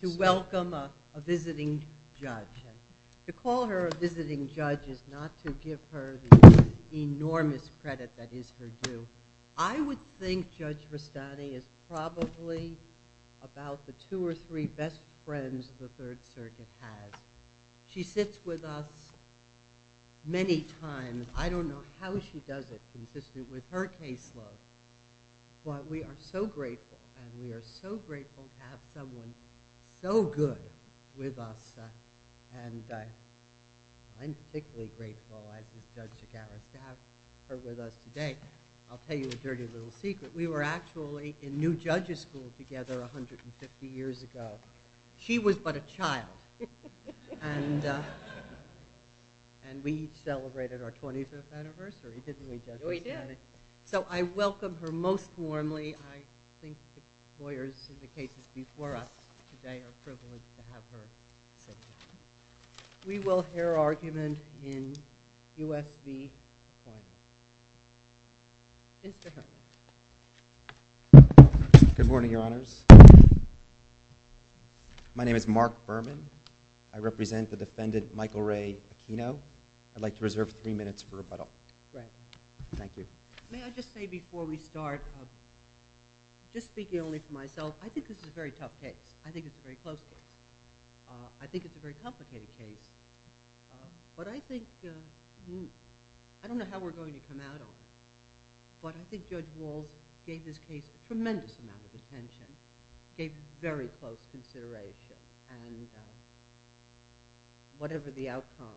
to welcome a visiting judge. To call her a visiting judge is not to give her the enormous credit that is her due. I would think Judge Rustani is probably about the two or three best friends the Third Circuit has. She sits with us many times. I don't know how she does it consistent with her caseload. But we are so grateful, and we are so grateful to have someone so good with us. And I'm particularly grateful, as is Judge Agoura, to have her with us today. I'll tell you a dirty little secret. We were actually in New Judges School together 150 years ago. She was but a child. And we celebrated our 20th anniversary, didn't we, Judge Rustani? We did. So I welcome her most warmly. I think the lawyers in the cases before us today are privileged to have her sit here. We will hear argument in U.S. v. Aquino. Mr. Herman. Good morning, Your Honors. My name is Mark Berman. I represent the defendant Michael Ray Aquino. I'd like to reserve three minutes for rebuttal. Thank you. May I just say before we start, just speaking only for myself, I think this is a very tough case. I think it's a very close case. I think it's a very complicated case. But I think, I don't know how we're going to come out of it, but I think Judge Walz gave this case a tremendous amount of attention, gave very close consideration. And whatever the outcome,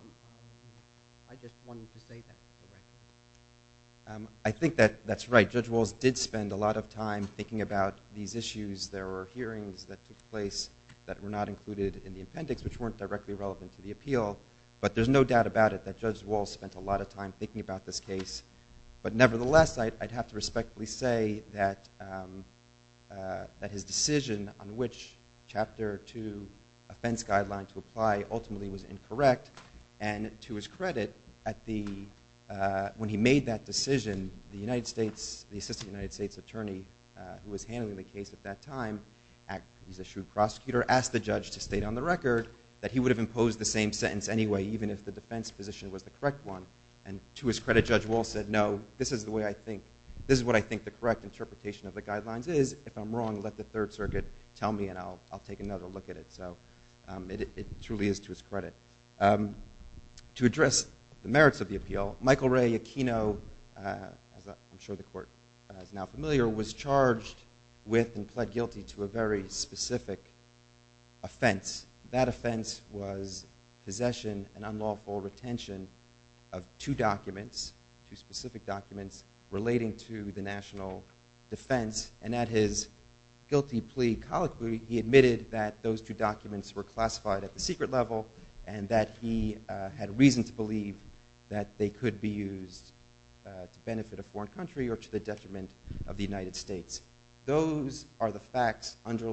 I just wanted to say that directly. I think that's right. Judge Walz did spend a lot of time thinking about these issues. There were hearings that took place that were not included in the appendix which weren't directly relevant to the appeal. But there's no doubt about it that Judge Walz spent a lot of time thinking about this case. But nevertheless, I'd have to respectfully say that his decision on which Chapter 2 offense guideline to apply ultimately was incorrect. And to his credit, when he made that decision, the Assistant United States Attorney who was handling the case at that time, he's a shrewd prosecutor, asked the judge to state on the record that he would have imposed the same sentence anyway, even if the defense position was the correct one. And to his credit, Judge Walz said, no, this is what I think the correct interpretation of the guidelines is. If I'm wrong, let the Third Circuit tell me and I'll take another look at it. So it truly is to his credit. To address the merits of the appeal, Michael Ray Aquino, as I'm sure the court is now familiar, was charged with and pled guilty to a very specific offense. That offense was possession and unlawful retention of two documents, two specific documents, relating to the national defense. And at his guilty plea colloquy, he admitted that those two documents were classified at the secret level and that he had reason to believe that they could be used to benefit a foreign country or to the detriment of the United States. Those are the facts that the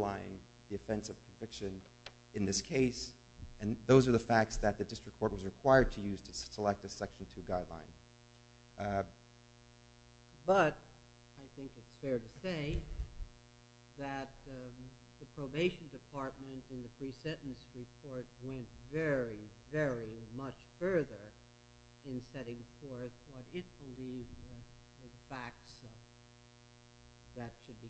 district court was required to use to select a Section 2 guideline. But I think it's fair to say that the probation department in the pre-sentence report went very, very much further in setting forth what it believed were the facts that should be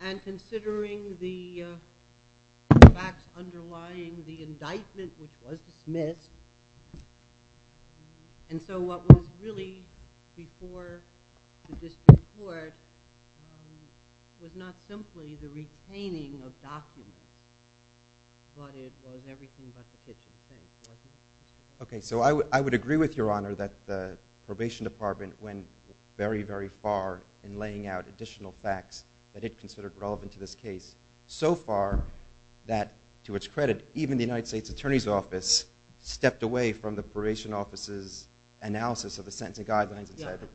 And considering the facts underlying the indictment, which was dismissed, and so what was really before the district court was not simply the retaining of documents, but it was everything but the kitchen sink, wasn't it? Okay, so I would agree with Your Honor that the probation department went very, very far in laying out additional facts that it considered relevant to this case. So far that, to its credit, even the United States Attorney's Office stepped away from the probation office's analysis of the sentencing guidelines.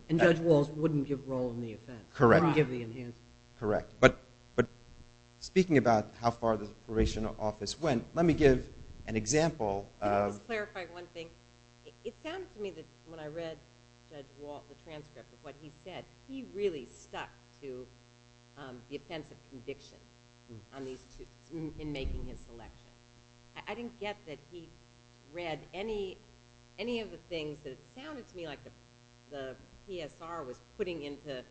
And Judge Walz wouldn't give role in the offense. Correct. He wouldn't give the enhancements. Correct. But speaking about how far the probation office went, let me give an example of clarify one thing. It sounds to me that when I read the transcript of what he said, he really stuck to the offense of conviction in making his selection. I didn't get that he read any of the things that sounded to me like the PSR was putting into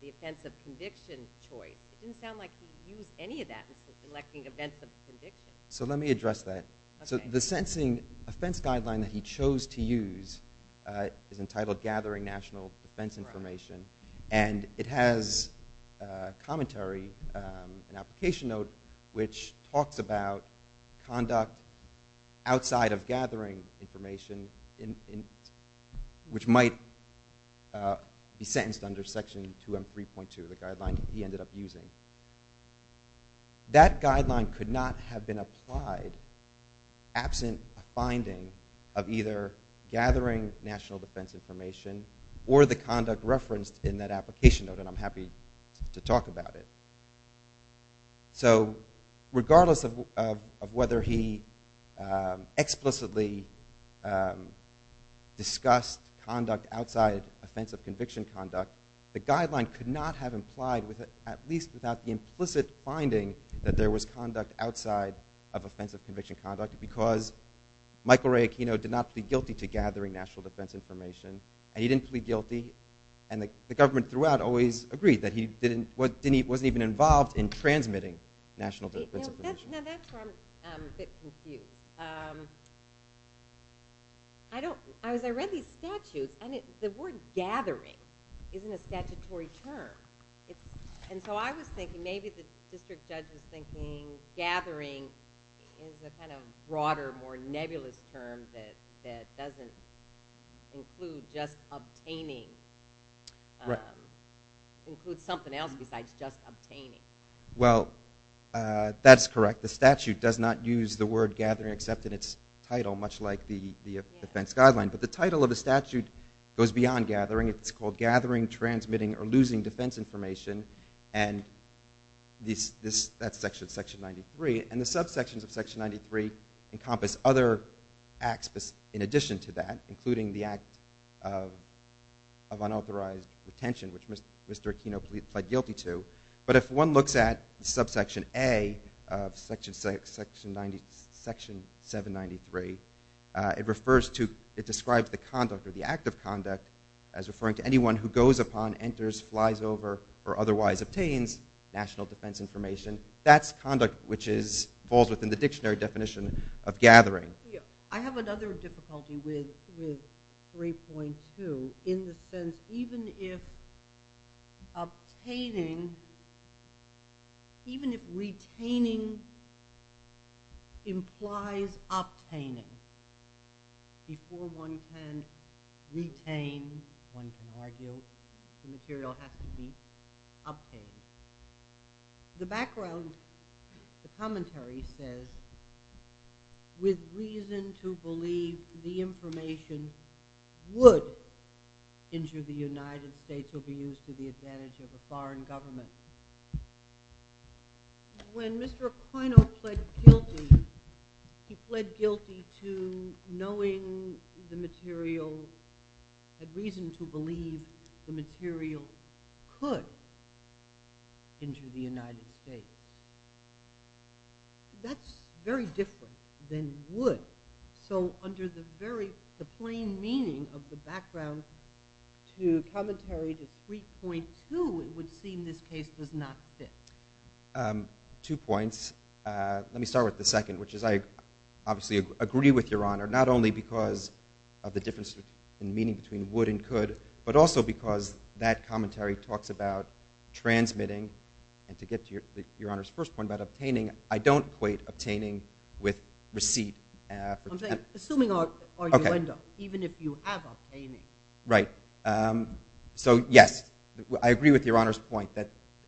the offense of conviction choice. It didn't sound like he used any of that in selecting events of conviction. So let me address that. Okay. So the sentencing offense guideline that he chose to use is entitled Gathering National Defense Information. Right. And it has commentary, an application note, which talks about conduct outside of gathering information, which might be sentenced under Section 2M3.2, the guideline that he ended up using. That guideline could not have been applied absent a finding of either gathering national defense information or the conduct referenced in that application note, and I'm happy to talk about it. So regardless of whether he explicitly discussed conduct outside offense of conviction conduct, the guideline could not have implied, at least without the implicit finding, that there was conduct outside of offense of conviction conduct because Michael Ray Aquino did not plead guilty to gathering national defense information, and he didn't plead guilty, and the government throughout always agreed that he wasn't even involved in transmitting national defense information. Now that's where I'm a bit confused. I don't, as I read these statutes, and the word gathering isn't a statutory term. And so I was thinking, maybe the district judge was thinking gathering is a kind of broader, more nebulous term that doesn't include just obtaining. Right. Includes something else besides just obtaining. Well, that's correct. The statute does not use the word gathering except in its title, much like the defense guideline. But the title of the statute goes beyond gathering. It's called gathering, transmitting, or losing defense information, and that's section 93. And the subsections of section 93 encompass other acts in addition to that, including the act of unauthorized retention, which Mr. Aquino pled guilty to. But if one looks at subsection A of section 793, it refers to, it describes the conduct or the act of conduct as referring to anyone who goes upon, enters, flies over, or otherwise obtains national defense information. That's conduct which falls within the dictionary definition of gathering. I have another difficulty with 3.2 in the sense, even if obtaining, even if retaining implies obtaining, before one can retain, one can argue, the material has to be obtained. The background, the commentary says, with reason to believe the information would injure the United States or be used to the advantage of a foreign government. When Mr. Aquino pled guilty, he pled guilty to knowing the material, had reason to believe the material could injure the United States. That's very different than would. So under the very, the plain meaning of the background to commentary to 3.2, it would seem this case does not fit. Two points. Let me start with the second, which is I obviously agree with Your Honor, not only because of the difference in meaning between would and could, but also because that commentary talks about transmitting, and to get to Your Honor's first point about obtaining, I don't equate obtaining with receipt. I'm saying, assuming or you end up, even if you have obtaining. Right. So yes, I agree with Your Honor's point,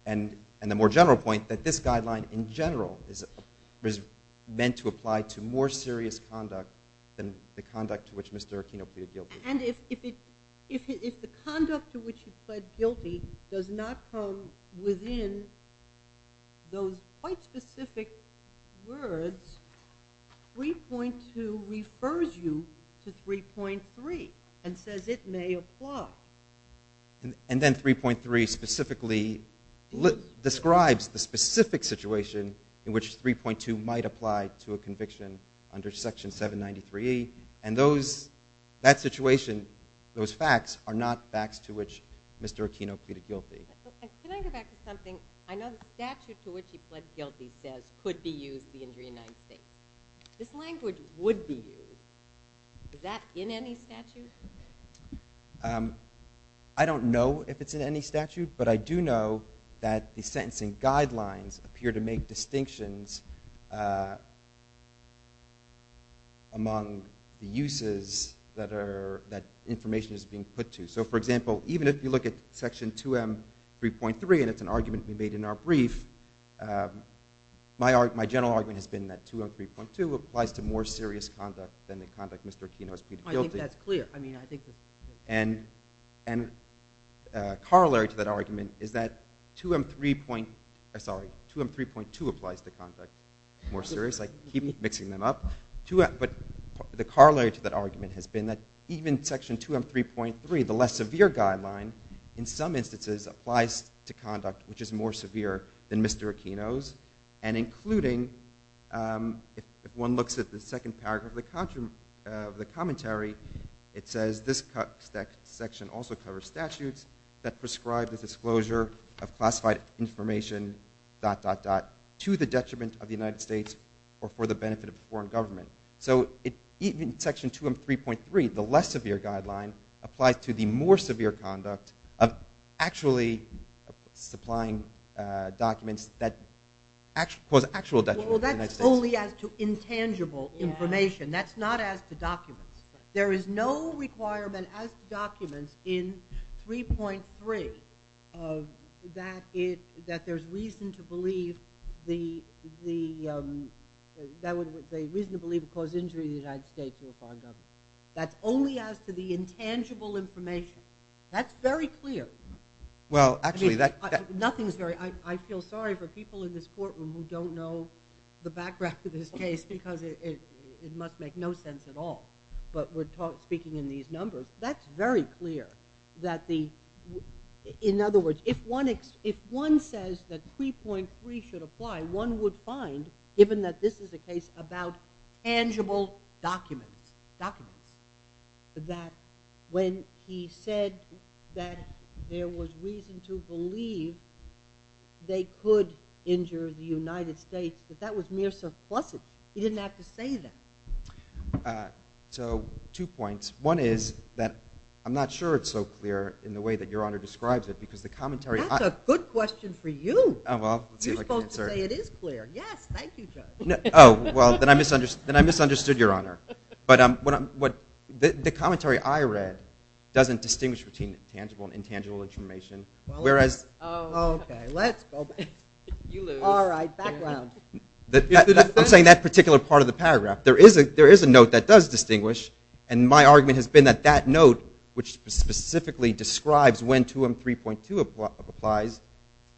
and the more general point, that this guideline in general is meant to apply to more serious conduct than the conduct to which Mr. Aquino pleaded guilty. And if the conduct to which he pled guilty does not come within those quite specific words, 3.2 refers you to 3.3 and says it may apply. And then 3.3 specifically describes the specific situation in which 3.2 might apply to a conviction under Section 793E, and that situation, those facts are not facts to which Mr. Aquino pleaded guilty. Can I go back to something? I know the statute to which he pled guilty says could be used in the United States. This language would be used. Is that in any statute? I don't know if it's in any statute, but I do know that the sentencing guidelines appear to make distinctions among the uses that information is being put to. So for example, even if you look at Section 2M3.3, and it's an argument we made in our brief, my general argument has been that 2M3.2 applies to more serious conduct than the conduct Mr. Aquino has pleaded guilty. I think that's clear. And corollary to that argument is that 2M3.2 applies to conduct more serious. I keep mixing them up. But the corollary to that argument has been that even Section 2M3.3, the less severe guideline, in some instances applies to conduct which is more severe than Mr. Aquino's. And including, if one looks at the second paragraph of the commentary, it says this section also covers statutes that prescribe the disclosure of classified information dot dot dot to the detriment of the United States or for the benefit of the foreign government. So even Section 2M3.3, the less severe guideline, applies to the more severe conduct of actually supplying documents that cause actual detriment to the United States. Well, that's only as to intangible information. That's not as to documents. There is no requirement as to documents in 3.3 that there's reason to believe the reason to believe it would cause injury to the United States or foreign government. That's only as to the intangible information. That's very clear. I feel sorry for people in this courtroom who don't know the background to this case because it must make no sense at all. But we're speaking in these numbers. That's very clear. In other words, if one says that 3.3 should apply, one would find, given that this is a case about tangible documents, documents, that when he said that there was reason to believe they could injure the United States, that that was mere supplicant. He didn't have to say that. So two points. One is that I'm not sure it's so clear in the way that Your Honor describes it because the commentary… That's a good question for you. Oh, well, let's see if I can answer it. You're supposed to say it is clear. Yes. Thank you, Judge. Oh, well, then I misunderstood Your Honor. But the commentary I read doesn't distinguish between tangible and intangible information, whereas… Oh, okay. Let's go back. You lose. All right. Background. I'm saying that particular part of the paragraph. There is a note that does distinguish, and my argument has been that that note, which specifically describes when 2M3.2 applies,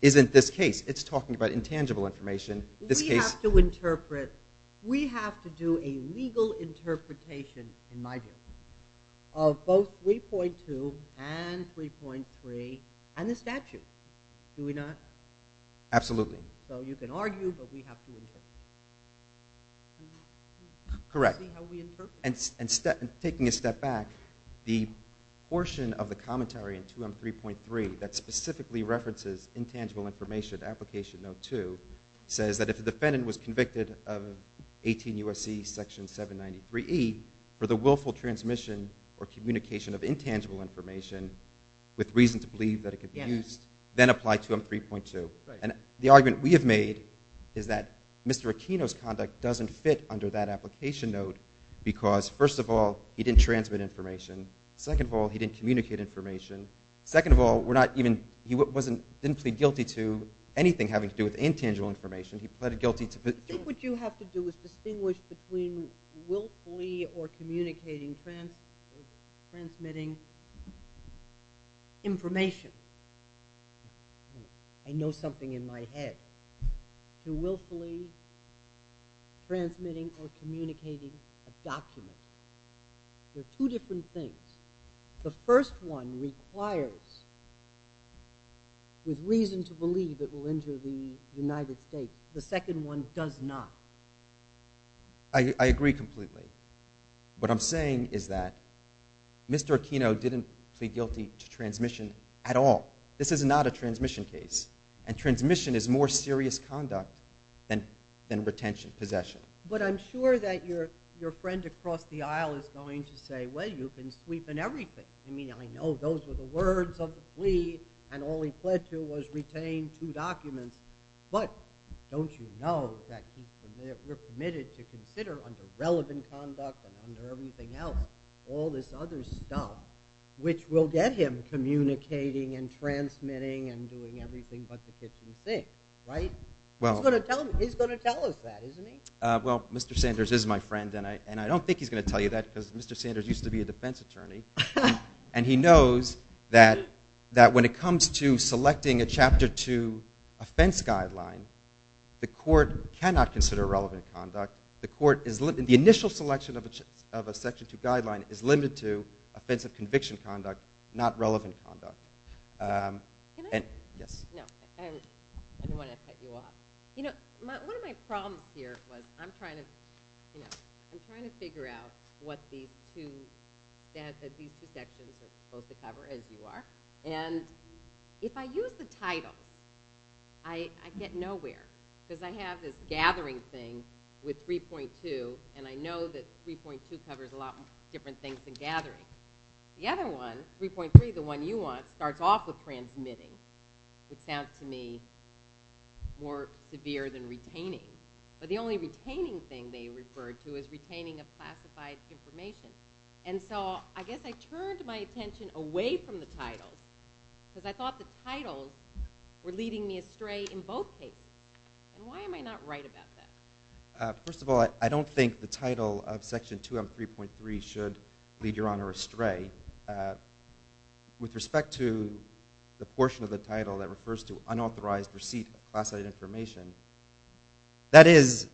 isn't this case. It's talking about intangible information. We have to interpret. We have to do a legal interpretation, in my view, of both 3.2 and 3.3 and the statute. Do we not? Absolutely. So you can argue, but we have to interpret. Correct. See how we interpret. Taking a step back, the portion of the commentary in 2M3.3 that specifically references intangible information, application note 2, says that if the defendant was convicted of 18 U.S.C. section 793E for the willful transmission or communication of intangible information with reason to believe that it could be used, then apply 2M3.2. Right. And the argument we have made is that Mr. Aquino's conduct doesn't fit under that application note because, first of all, he didn't transmit information. Second of all, he didn't communicate information. Second of all, he didn't plead guilty to anything having to do with intangible information. He pleaded guilty to... I think what you have to do is distinguish between willfully or communicating, transmitting information. I know something in my head. To willfully transmitting or communicating a document. They're two different things. The first one requires with reason to believe it will enter the United States. The second one does not. I agree completely. What I'm saying is that Mr. Aquino didn't plead guilty to transmission at all. This is not a transmission case. And transmission is more serious conduct than retention, possession. But I'm sure that your friend across the aisle is going to say, well, you've been sweeping everything. I mean, I know those were the words of the plea, and all he pled to was retain two documents. But don't you know that we're permitted to consider under relevant conduct and under everything else all this other stuff, which will get him communicating and transmitting and doing everything but the kitchen sink, right? He's going to tell us that, isn't he? Well, Mr. Sanders is my friend. And I don't think he's going to tell you that, because Mr. Sanders used to be a defense attorney. And he knows that when it comes to selecting a Chapter 2 offense guideline, the court cannot consider relevant conduct. The initial selection of a Section 2 guideline is limited to offensive conviction conduct, not relevant conduct. Can I? Yes. No. I didn't want to cut you off. You know, one of my problems here was I'm trying to figure out what these two sections are supposed to cover, as you are. And if I use the title, I get nowhere, because I have this gathering thing with 3.2, and I know that 3.2 covers a lot of different things than gathering. The other one, 3.3, the one you want, starts off with transmitting, which sounds to me more severe than retaining. But the only retaining thing they referred to is retaining of classified information. And so I guess I turned my attention away from the titles, because I thought the titles were leading me astray in both cases. And why am I not right about that? First of all, I don't think the title of Section 2M3.3 should lead Your Honor astray. With respect to the portion of the title that refers to unauthorized receipt of classified information, that is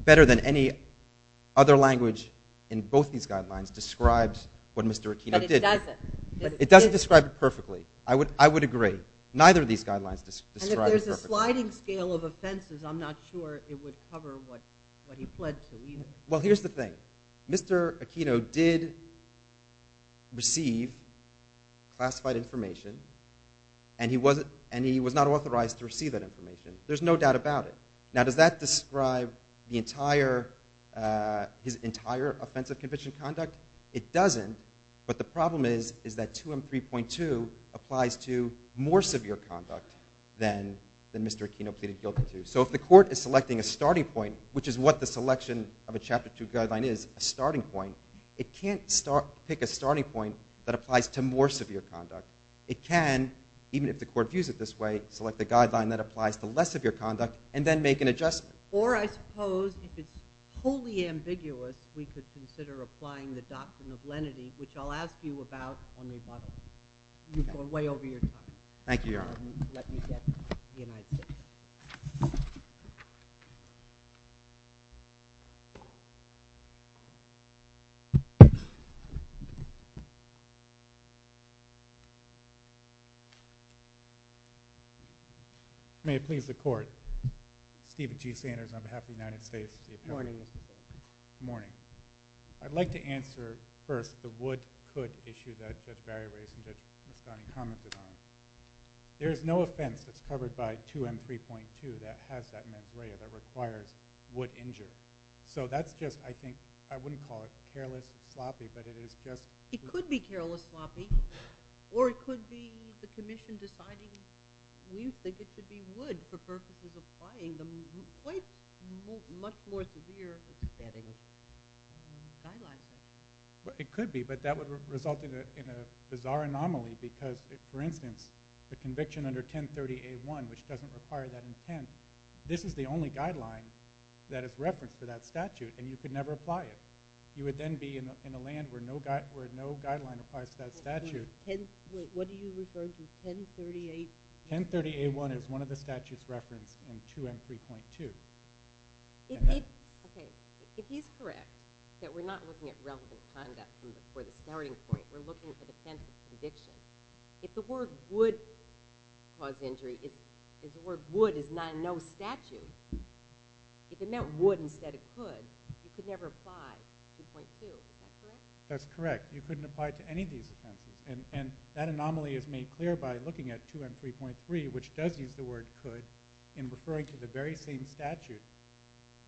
better than any other language in both these guidelines describes what Mr. Aquino did. But it doesn't. But it doesn't describe it perfectly. I would agree. Neither of these guidelines describe it perfectly. And if there's a sliding scale of offenses, I'm not sure it would cover what he pled to either. Well, here's the thing. Mr. Aquino did receive classified information, and he was not authorized to receive that information. There's no doubt about it. Now, does that describe his entire offense of conviction conduct? It doesn't. But the problem is that 2M3.2 applies to more severe conduct than Mr. Aquino pleaded guilty to. So if the court is selecting a starting point, which is what the selection of a Chapter 2 guideline is, a starting point, it can't pick a starting point that applies to more severe conduct. It can, even if the court views it this way, select the guideline that applies to less severe conduct and then make an adjustment. Or I suppose, if it's wholly ambiguous, we could consider applying the doctrine of lenity, which I'll ask you about on rebuttal. You've gone way over your time. Thank you, Your Honor. Let me get the United States. May it please the Court. Stephen G. Sanders on behalf of the United States. Good morning, Mr. Sanders. Good morning. I'd like to answer first the would, could issue that Judge Barry raised and Judge Mastani commented on. There is no offense that's covered by 2M3.2 that has that mens rea that requires would injure. So that's just, I think, I wouldn't call it careless, sloppy, but it is just— It could be careless, sloppy, or it could be the Commission deciding we think it should be would for purposes of applying the much more severe setting guidelines. It could be, but that would result in a bizarre anomaly because, for instance, the conviction under 1030A1, which doesn't require that intent, this is the only guideline that is referenced for that statute and you could never apply it. You would then be in a land where no guideline applies to that statute. What are you referring to? 1038A1? 1038A1 is one of the statutes referenced in 2M3.2. If he's correct, that we're not looking at relevant conduct for the starting point, we're looking for the sense of conviction, if the word would cause injury, if the word would is not in no statute, if it meant would instead of could, you could never apply 2.2. Is that correct? That's correct. You couldn't apply it to any of these offenses. That anomaly is made clear by looking at 2M3.3, which does use the word could in referring to the very same statute,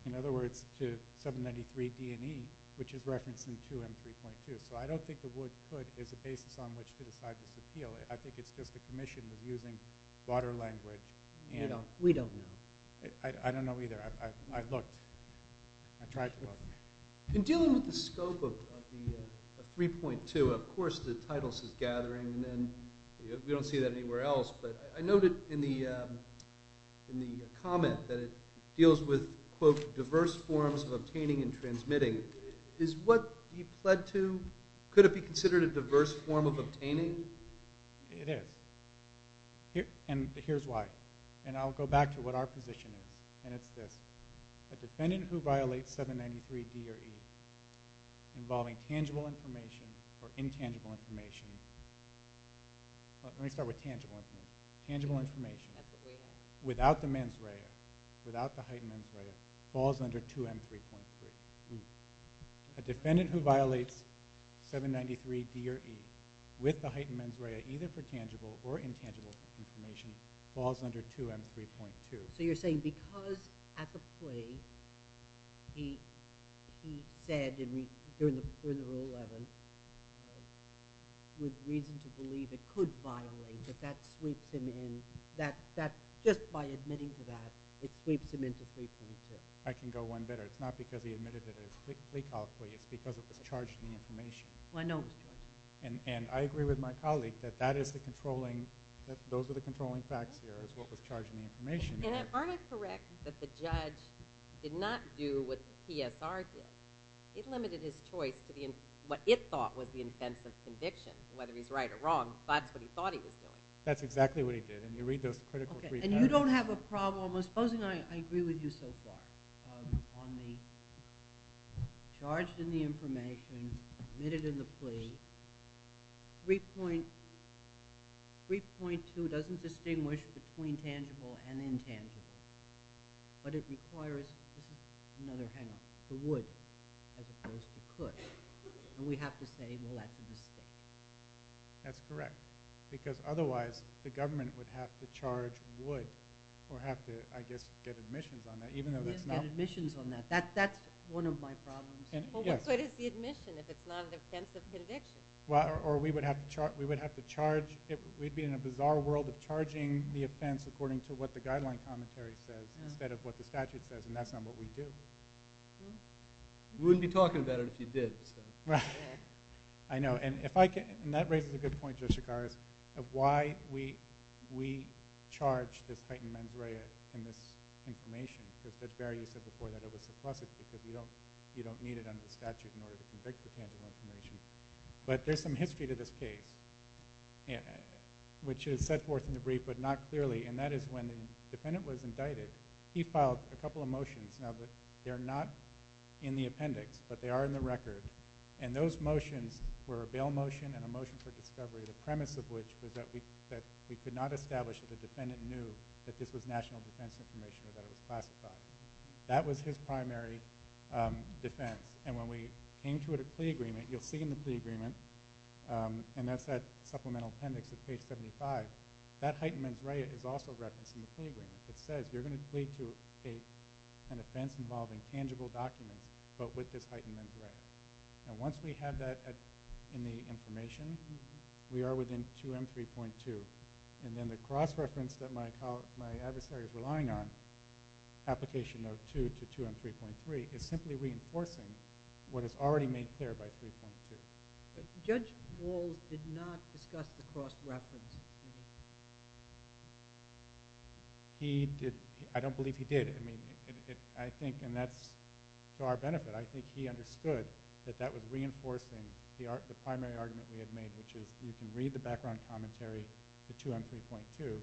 in other words, to 793D&E, which is referenced in 2M3.2. I don't think the word could is a basis on which to decide this appeal. I think it's just the Commission was using broader language. We don't know. I don't know either. I looked. I tried to look. In dealing with the scope of 3.2, of course the title says gathering, and then we don't see that anywhere else, but I noted in the comment that it deals with, quote, diverse forms of obtaining and transmitting. Is what he pled to, could it be considered a diverse form of obtaining? It is, and here's why, and I'll go back to what our position is, and it's this. A defendant who violates 793D&E involving tangible information or intangible information, let me start with tangible information, without the mens rea, without the heightened mens rea, falls under 2M3.3. A defendant who violates 793D&E with the heightened mens rea, either for tangible or intangible information, falls under 2M3.2. So you're saying because at the plea, he said during Rule 11, with reason to believe it could violate, that that sweeps him in, that just by admitting to that, it sweeps him into 3.2. I can go one better. It's not because he admitted it at his plea call plea. It's because it was charged in the information. Well, I know it was charged. And I agree with my colleague that that is the controlling, those are the controlling facts here, is what was charged in the information. And aren't I correct that the judge did not do what the PSR did? It limited his choice to what it thought was the offense of conviction. Whether he's right or wrong, that's what he thought he was doing. That's exactly what he did. And you read those critical brief notes. And you don't have a problem, supposing I agree with you so far, on the charged in the information. But it requires, this is another hang-up, the would as opposed to could. And we have to say, well, that's a mistake. That's correct. Because otherwise, the government would have to charge would or have to, I guess, get admissions on that, even though that's not... Get admissions on that. That's one of my problems. Well, what is the admission if it's not an offense of conviction? Or we would have to charge, we'd be in a bizarre world of charging the offense according to what the guideline commentary says, instead of what the statute says. And that's not what we do. We wouldn't be talking about it if you did. I know. And if I can, and that raises a good point, Joshua Carr, of why we charge this heightened mens rea in this information. Because Barry, you said before that it was suppressive, because you don't need it under But there's some history to this case, which is set forth in the brief, but not clearly. And that is when the defendant was indicted, he filed a couple of motions. Now, they're not in the appendix, but they are in the record. And those motions were a bail motion and a motion for discovery, the premise of which was that we could not establish that the defendant knew that this was national defense information or that it was classified. That was his primary defense. And when we came to a plea agreement, you'll see in the plea agreement, and that's that supplemental appendix at page 75, that heightened mens rea is also referenced in the plea agreement. It says you're going to plead to an offense involving tangible documents, but with this heightened mens rea. And once we have that in the information, we are within 2M3.2. And then the cross-reference that my adversary is relying on, application of 2 to 2M3.3, is simply reinforcing what is already made clear by 3.2. Judge Wall did not discuss the cross-reference. He did. I don't believe he did. I mean, I think, and that's to our benefit, I think he understood that that was reinforcing the primary argument we had made, which is you can read the background commentary to 2M3.2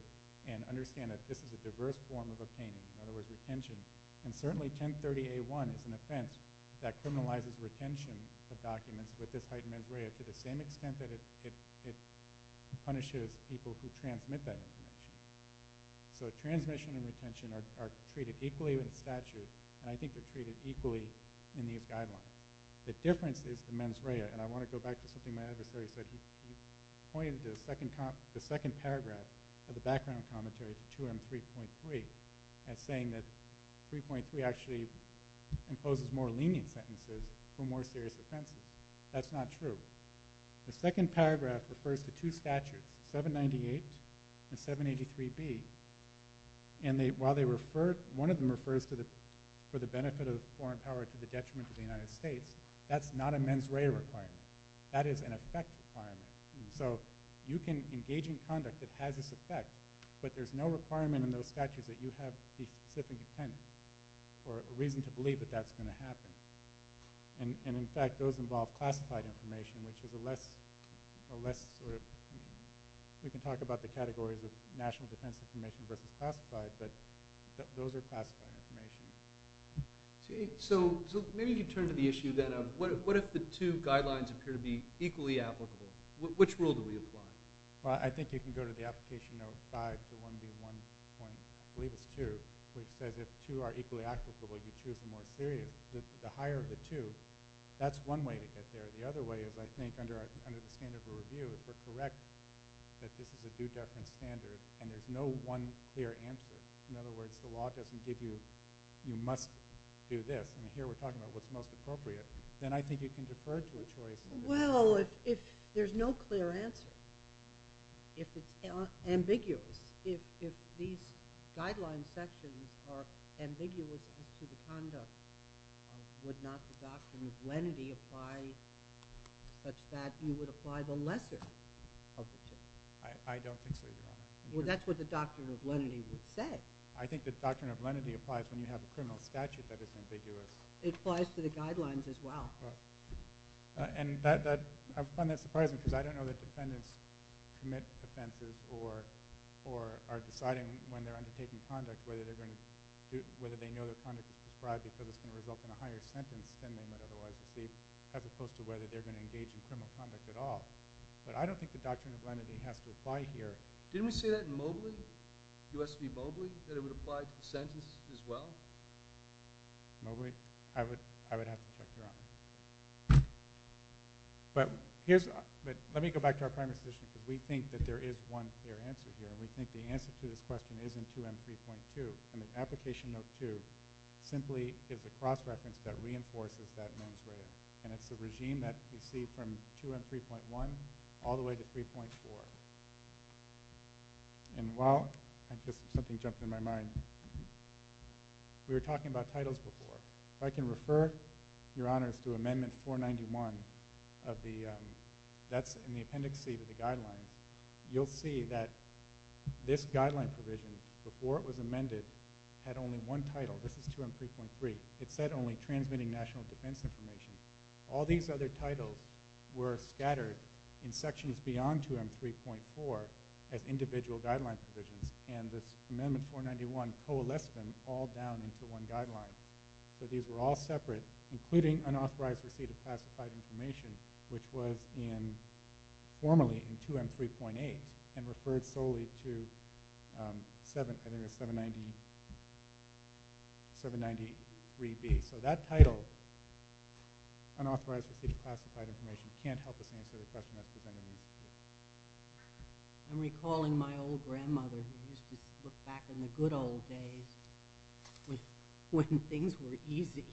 and understand that this is a diverse form of obtaining, in other words, retention. And certainly 1030A1 is an offense that criminalizes retention of documents with this heightened mens rea to the same extent that it punishes people who transmit that information. So transmission and retention are treated equally with statute, and I think they're treated equally in the guidelines. The difference is the mens rea, and I want to go back to something my adversary said. He pointed to the second paragraph of the background commentary to 2M3.3 as saying that 3.3 actually imposes more lenient sentences for more serious offenses. That's not true. The second paragraph refers to two statutes, 798 and 783B, and while one of them refers for the benefit of foreign power to the detriment of the United States, that's not a mens rea requirement. That is an effect requirement. So you can engage in conduct that has this effect, but there's no requirement in those or a reason to believe that that's going to happen. And in fact, those involve classified information, which is a less sort of, we can talk about the categories of national defense information versus classified, but those are classified information. So maybe you turn to the issue then of what if the two guidelines appear to be equally applicable? Which rule do we apply? Well, I think you can go to the application note 5, the 1B1 point, I believe it's 2, which says if two are equally applicable, you choose the more serious, the higher of the two. That's one way to get there. The other way is I think under the standard of review, if we're correct that this is a due deference standard and there's no one clear answer, in other words, the law doesn't give you, you must do this, and here we're talking about what's most appropriate, then I think you can defer to a choice. Well, if there's no clear answer, if it's ambiguous, if these guidelines sections are ambiguous to the conduct, would not the doctrine of lenity apply such that you would apply the lesser of the two? I don't think so, Your Honor. Well, that's what the doctrine of lenity would say. I think the doctrine of lenity applies when you have a criminal statute that is ambiguous. It applies to the guidelines as well. And I find that surprising because I don't know that defendants commit offenses or are deciding when they're undertaking conduct whether they know their conduct is prescribed because it's going to result in a higher sentence than they would otherwise receive, as opposed to whether they're going to engage in criminal conduct at all. But I don't think the doctrine of lenity has to apply here. Didn't we say that in Mobley, U.S. v. Mobley, that it would apply to the sentence as well? Mobley? I would have to check, Your Honor. But let me go back to our primary position because we think that there is one clear answer here, and we think the answer to this question is in 2M 3.2. And the application of 2 simply is a cross-reference that reinforces that mens rea. And it's the regime that we see from 2M 3.1 all the way to 3.4. And while something jumped in my mind, we were talking about titles before. If I can refer, Your Honors, to Amendment 491, that's in the appendix C to the guideline, you'll see that this guideline provision, before it was amended, had only one title. This is 2M 3.3. It said only transmitting national defense information. All these other titles were scattered in sections beyond 2M 3.4 as individual guideline provisions. And this Amendment 491 coalesced them all down into one guideline. So these were all separate, including unauthorized receipt of classified information, which was formally in 2M 3.8 and referred solely to 793B. So that title, unauthorized receipt of classified information, can't help us answer the question that's presented in this case. I'm recalling my old grandmother who used to look back in the good old days when things were easy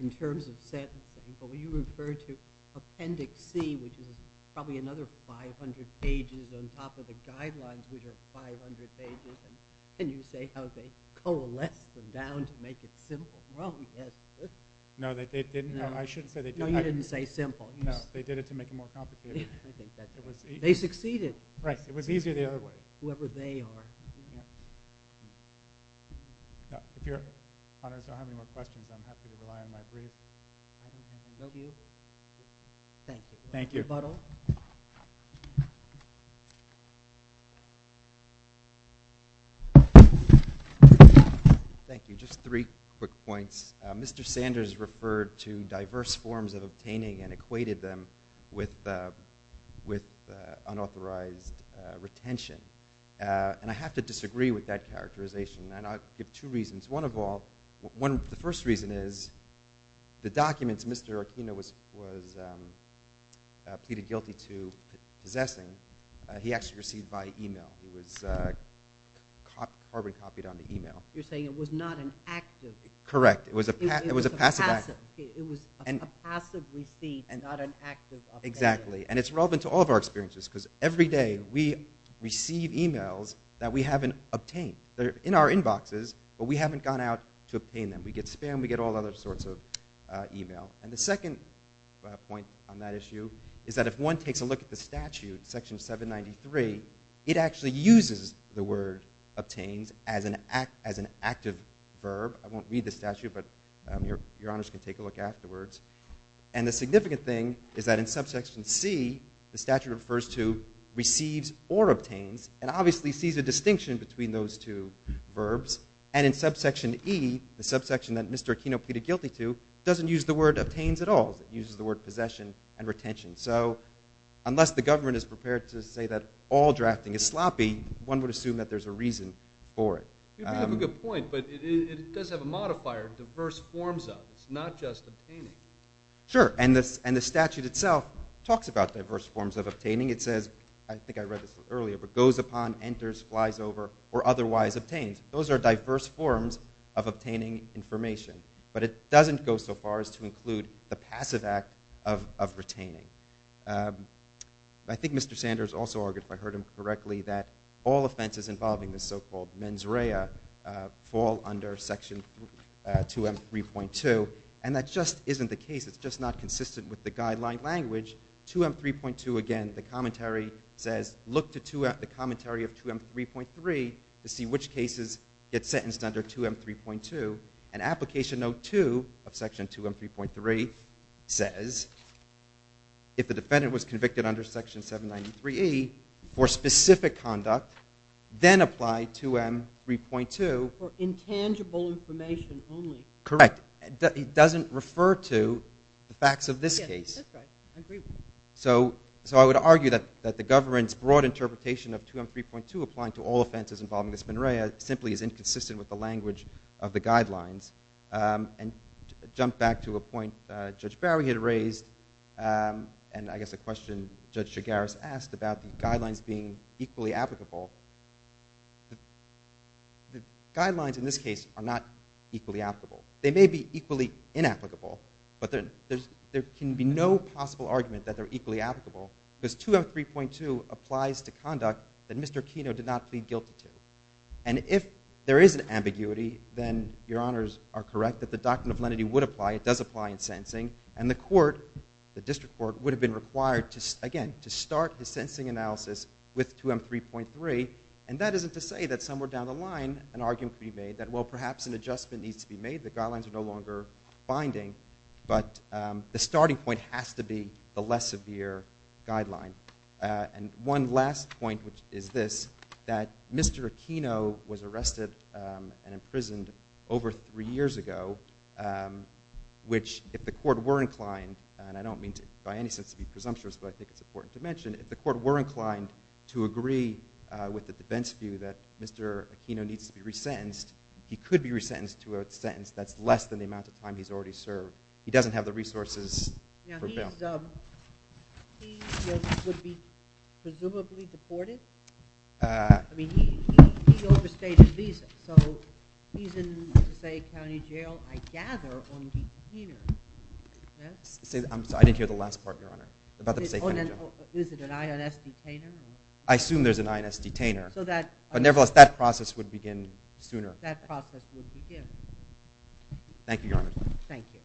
in terms of sentencing. But when you refer to Appendix C, which is probably another 500 pages on top of the guidelines, which are 500 pages, and you say how they coalesced them down to make it simple. No, I shouldn't say they did that. No, you didn't say simple. No, they did it to make it more complicated. They succeeded. Right. It was easier the other way. Whoever they are. If your honors don't have any more questions, I'm happy to rely on my brief. Thank you. Thank you. Thank you. Just three quick points. Mr. Sanders referred to diverse forms of obtaining and equated them with unauthorized retention. And I have to disagree with that characterization, and I'll give two reasons. One of all, the first reason is the documents Mr. Aquino was pleaded guilty to possessing, he actually received by e-mail. It was carbon copied on the e-mail. You're saying it was not an active. Correct. It was a passive. It was a passive receipt and not an active obtain. Exactly. And it's relevant to all of our experiences, because every day we receive e-mails that we haven't obtained. They're in our inboxes, but we haven't gone out to obtain them. We get spam, we get all other sorts of e-mail. And the second point on that issue is that if one takes a look at the statute, section 793, it actually uses the word obtains as an active verb. I won't read the statute, but your honors can take a look afterwards. And the significant thing is that in subsection C, the statute refers to receives or obtains, and obviously sees a distinction between those two verbs. And in subsection E, the subsection that Mr. Aquino pleaded guilty to, doesn't use the word obtains at all. It uses the word possession and retention. So unless the government is prepared to say that all drafting is sloppy, one would assume that there's a reason for it. You have a good point, but it does have a modifier, diverse forms of. It's not just obtaining. Sure. And the statute itself talks about diverse forms of obtaining. It says, I think I read this earlier, but goes upon, enters, flies over, or otherwise obtains. Those are diverse forms of obtaining information. But it doesn't go so far as to include the passive act of retaining. I think Mr. Sanders also argued, if I heard him correctly, that all offenses involving the so-called mens rea fall under section 2M3.2. And that just isn't the case. It's just not consistent with the guideline language. 2M3.2, again, the commentary says, look to the commentary of 2M3.3 to see which cases get sentenced under 2M3.2. And application note 2 of section 2M3.3 says, if the defendant was convicted under section 793E for specific conduct, then apply 2M3.2. For intangible information only. Correct. It doesn't refer to the facts of this case. So I would argue that the government's broad interpretation of 2M3.2 applying to all offenses involving the mens rea simply is inconsistent with the language of the guidelines. And to jump back to a point Judge Barry had raised, and I guess a question Judge Chigares asked about the guidelines being equally applicable, the guidelines in this case are not equally applicable. They may be equally inapplicable, but there can be no possible argument that they're equally applicable because 2M3.2 applies to conduct that Mr. Aquino did not plead guilty to. And if there is an ambiguity, then your honors are correct, that the doctrine of lenity would apply, it does apply in sentencing, and the court, the district court, would have been required, again, to start the sentencing analysis with 2M3.3. And that isn't to say that somewhere down the line an argument could be made that, well, perhaps an adjustment needs to be made, the guidelines are no longer binding, but the starting point has to be the less severe guideline. And one last point, which is this, that Mr. Aquino was arrested and imprisoned over three years ago, which if the court were inclined, and I don't mean by any sense to be presumptuous, but I think it's important to mention, if the court were inclined to agree with the defense view that Mr. Aquino needs to be resentenced, he could be resentenced to a sentence that's less than the amount of time he's already served. He doesn't have the resources for bail. He would be presumably deported? I mean, he overstayed his visa. So he's in, say, a county jail, I gather, on detainer. I'm sorry, I didn't hear the last part, Your Honor. Is it an INS detainer? I assume there's an INS detainer. But nevertheless, that process would begin sooner. Thank you, Your Honor. Thank you.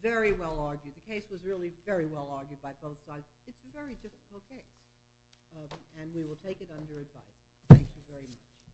Very well argued. The case was really very well argued by both sides. It's a very difficult case, and we will take it under advice. Thank you very much.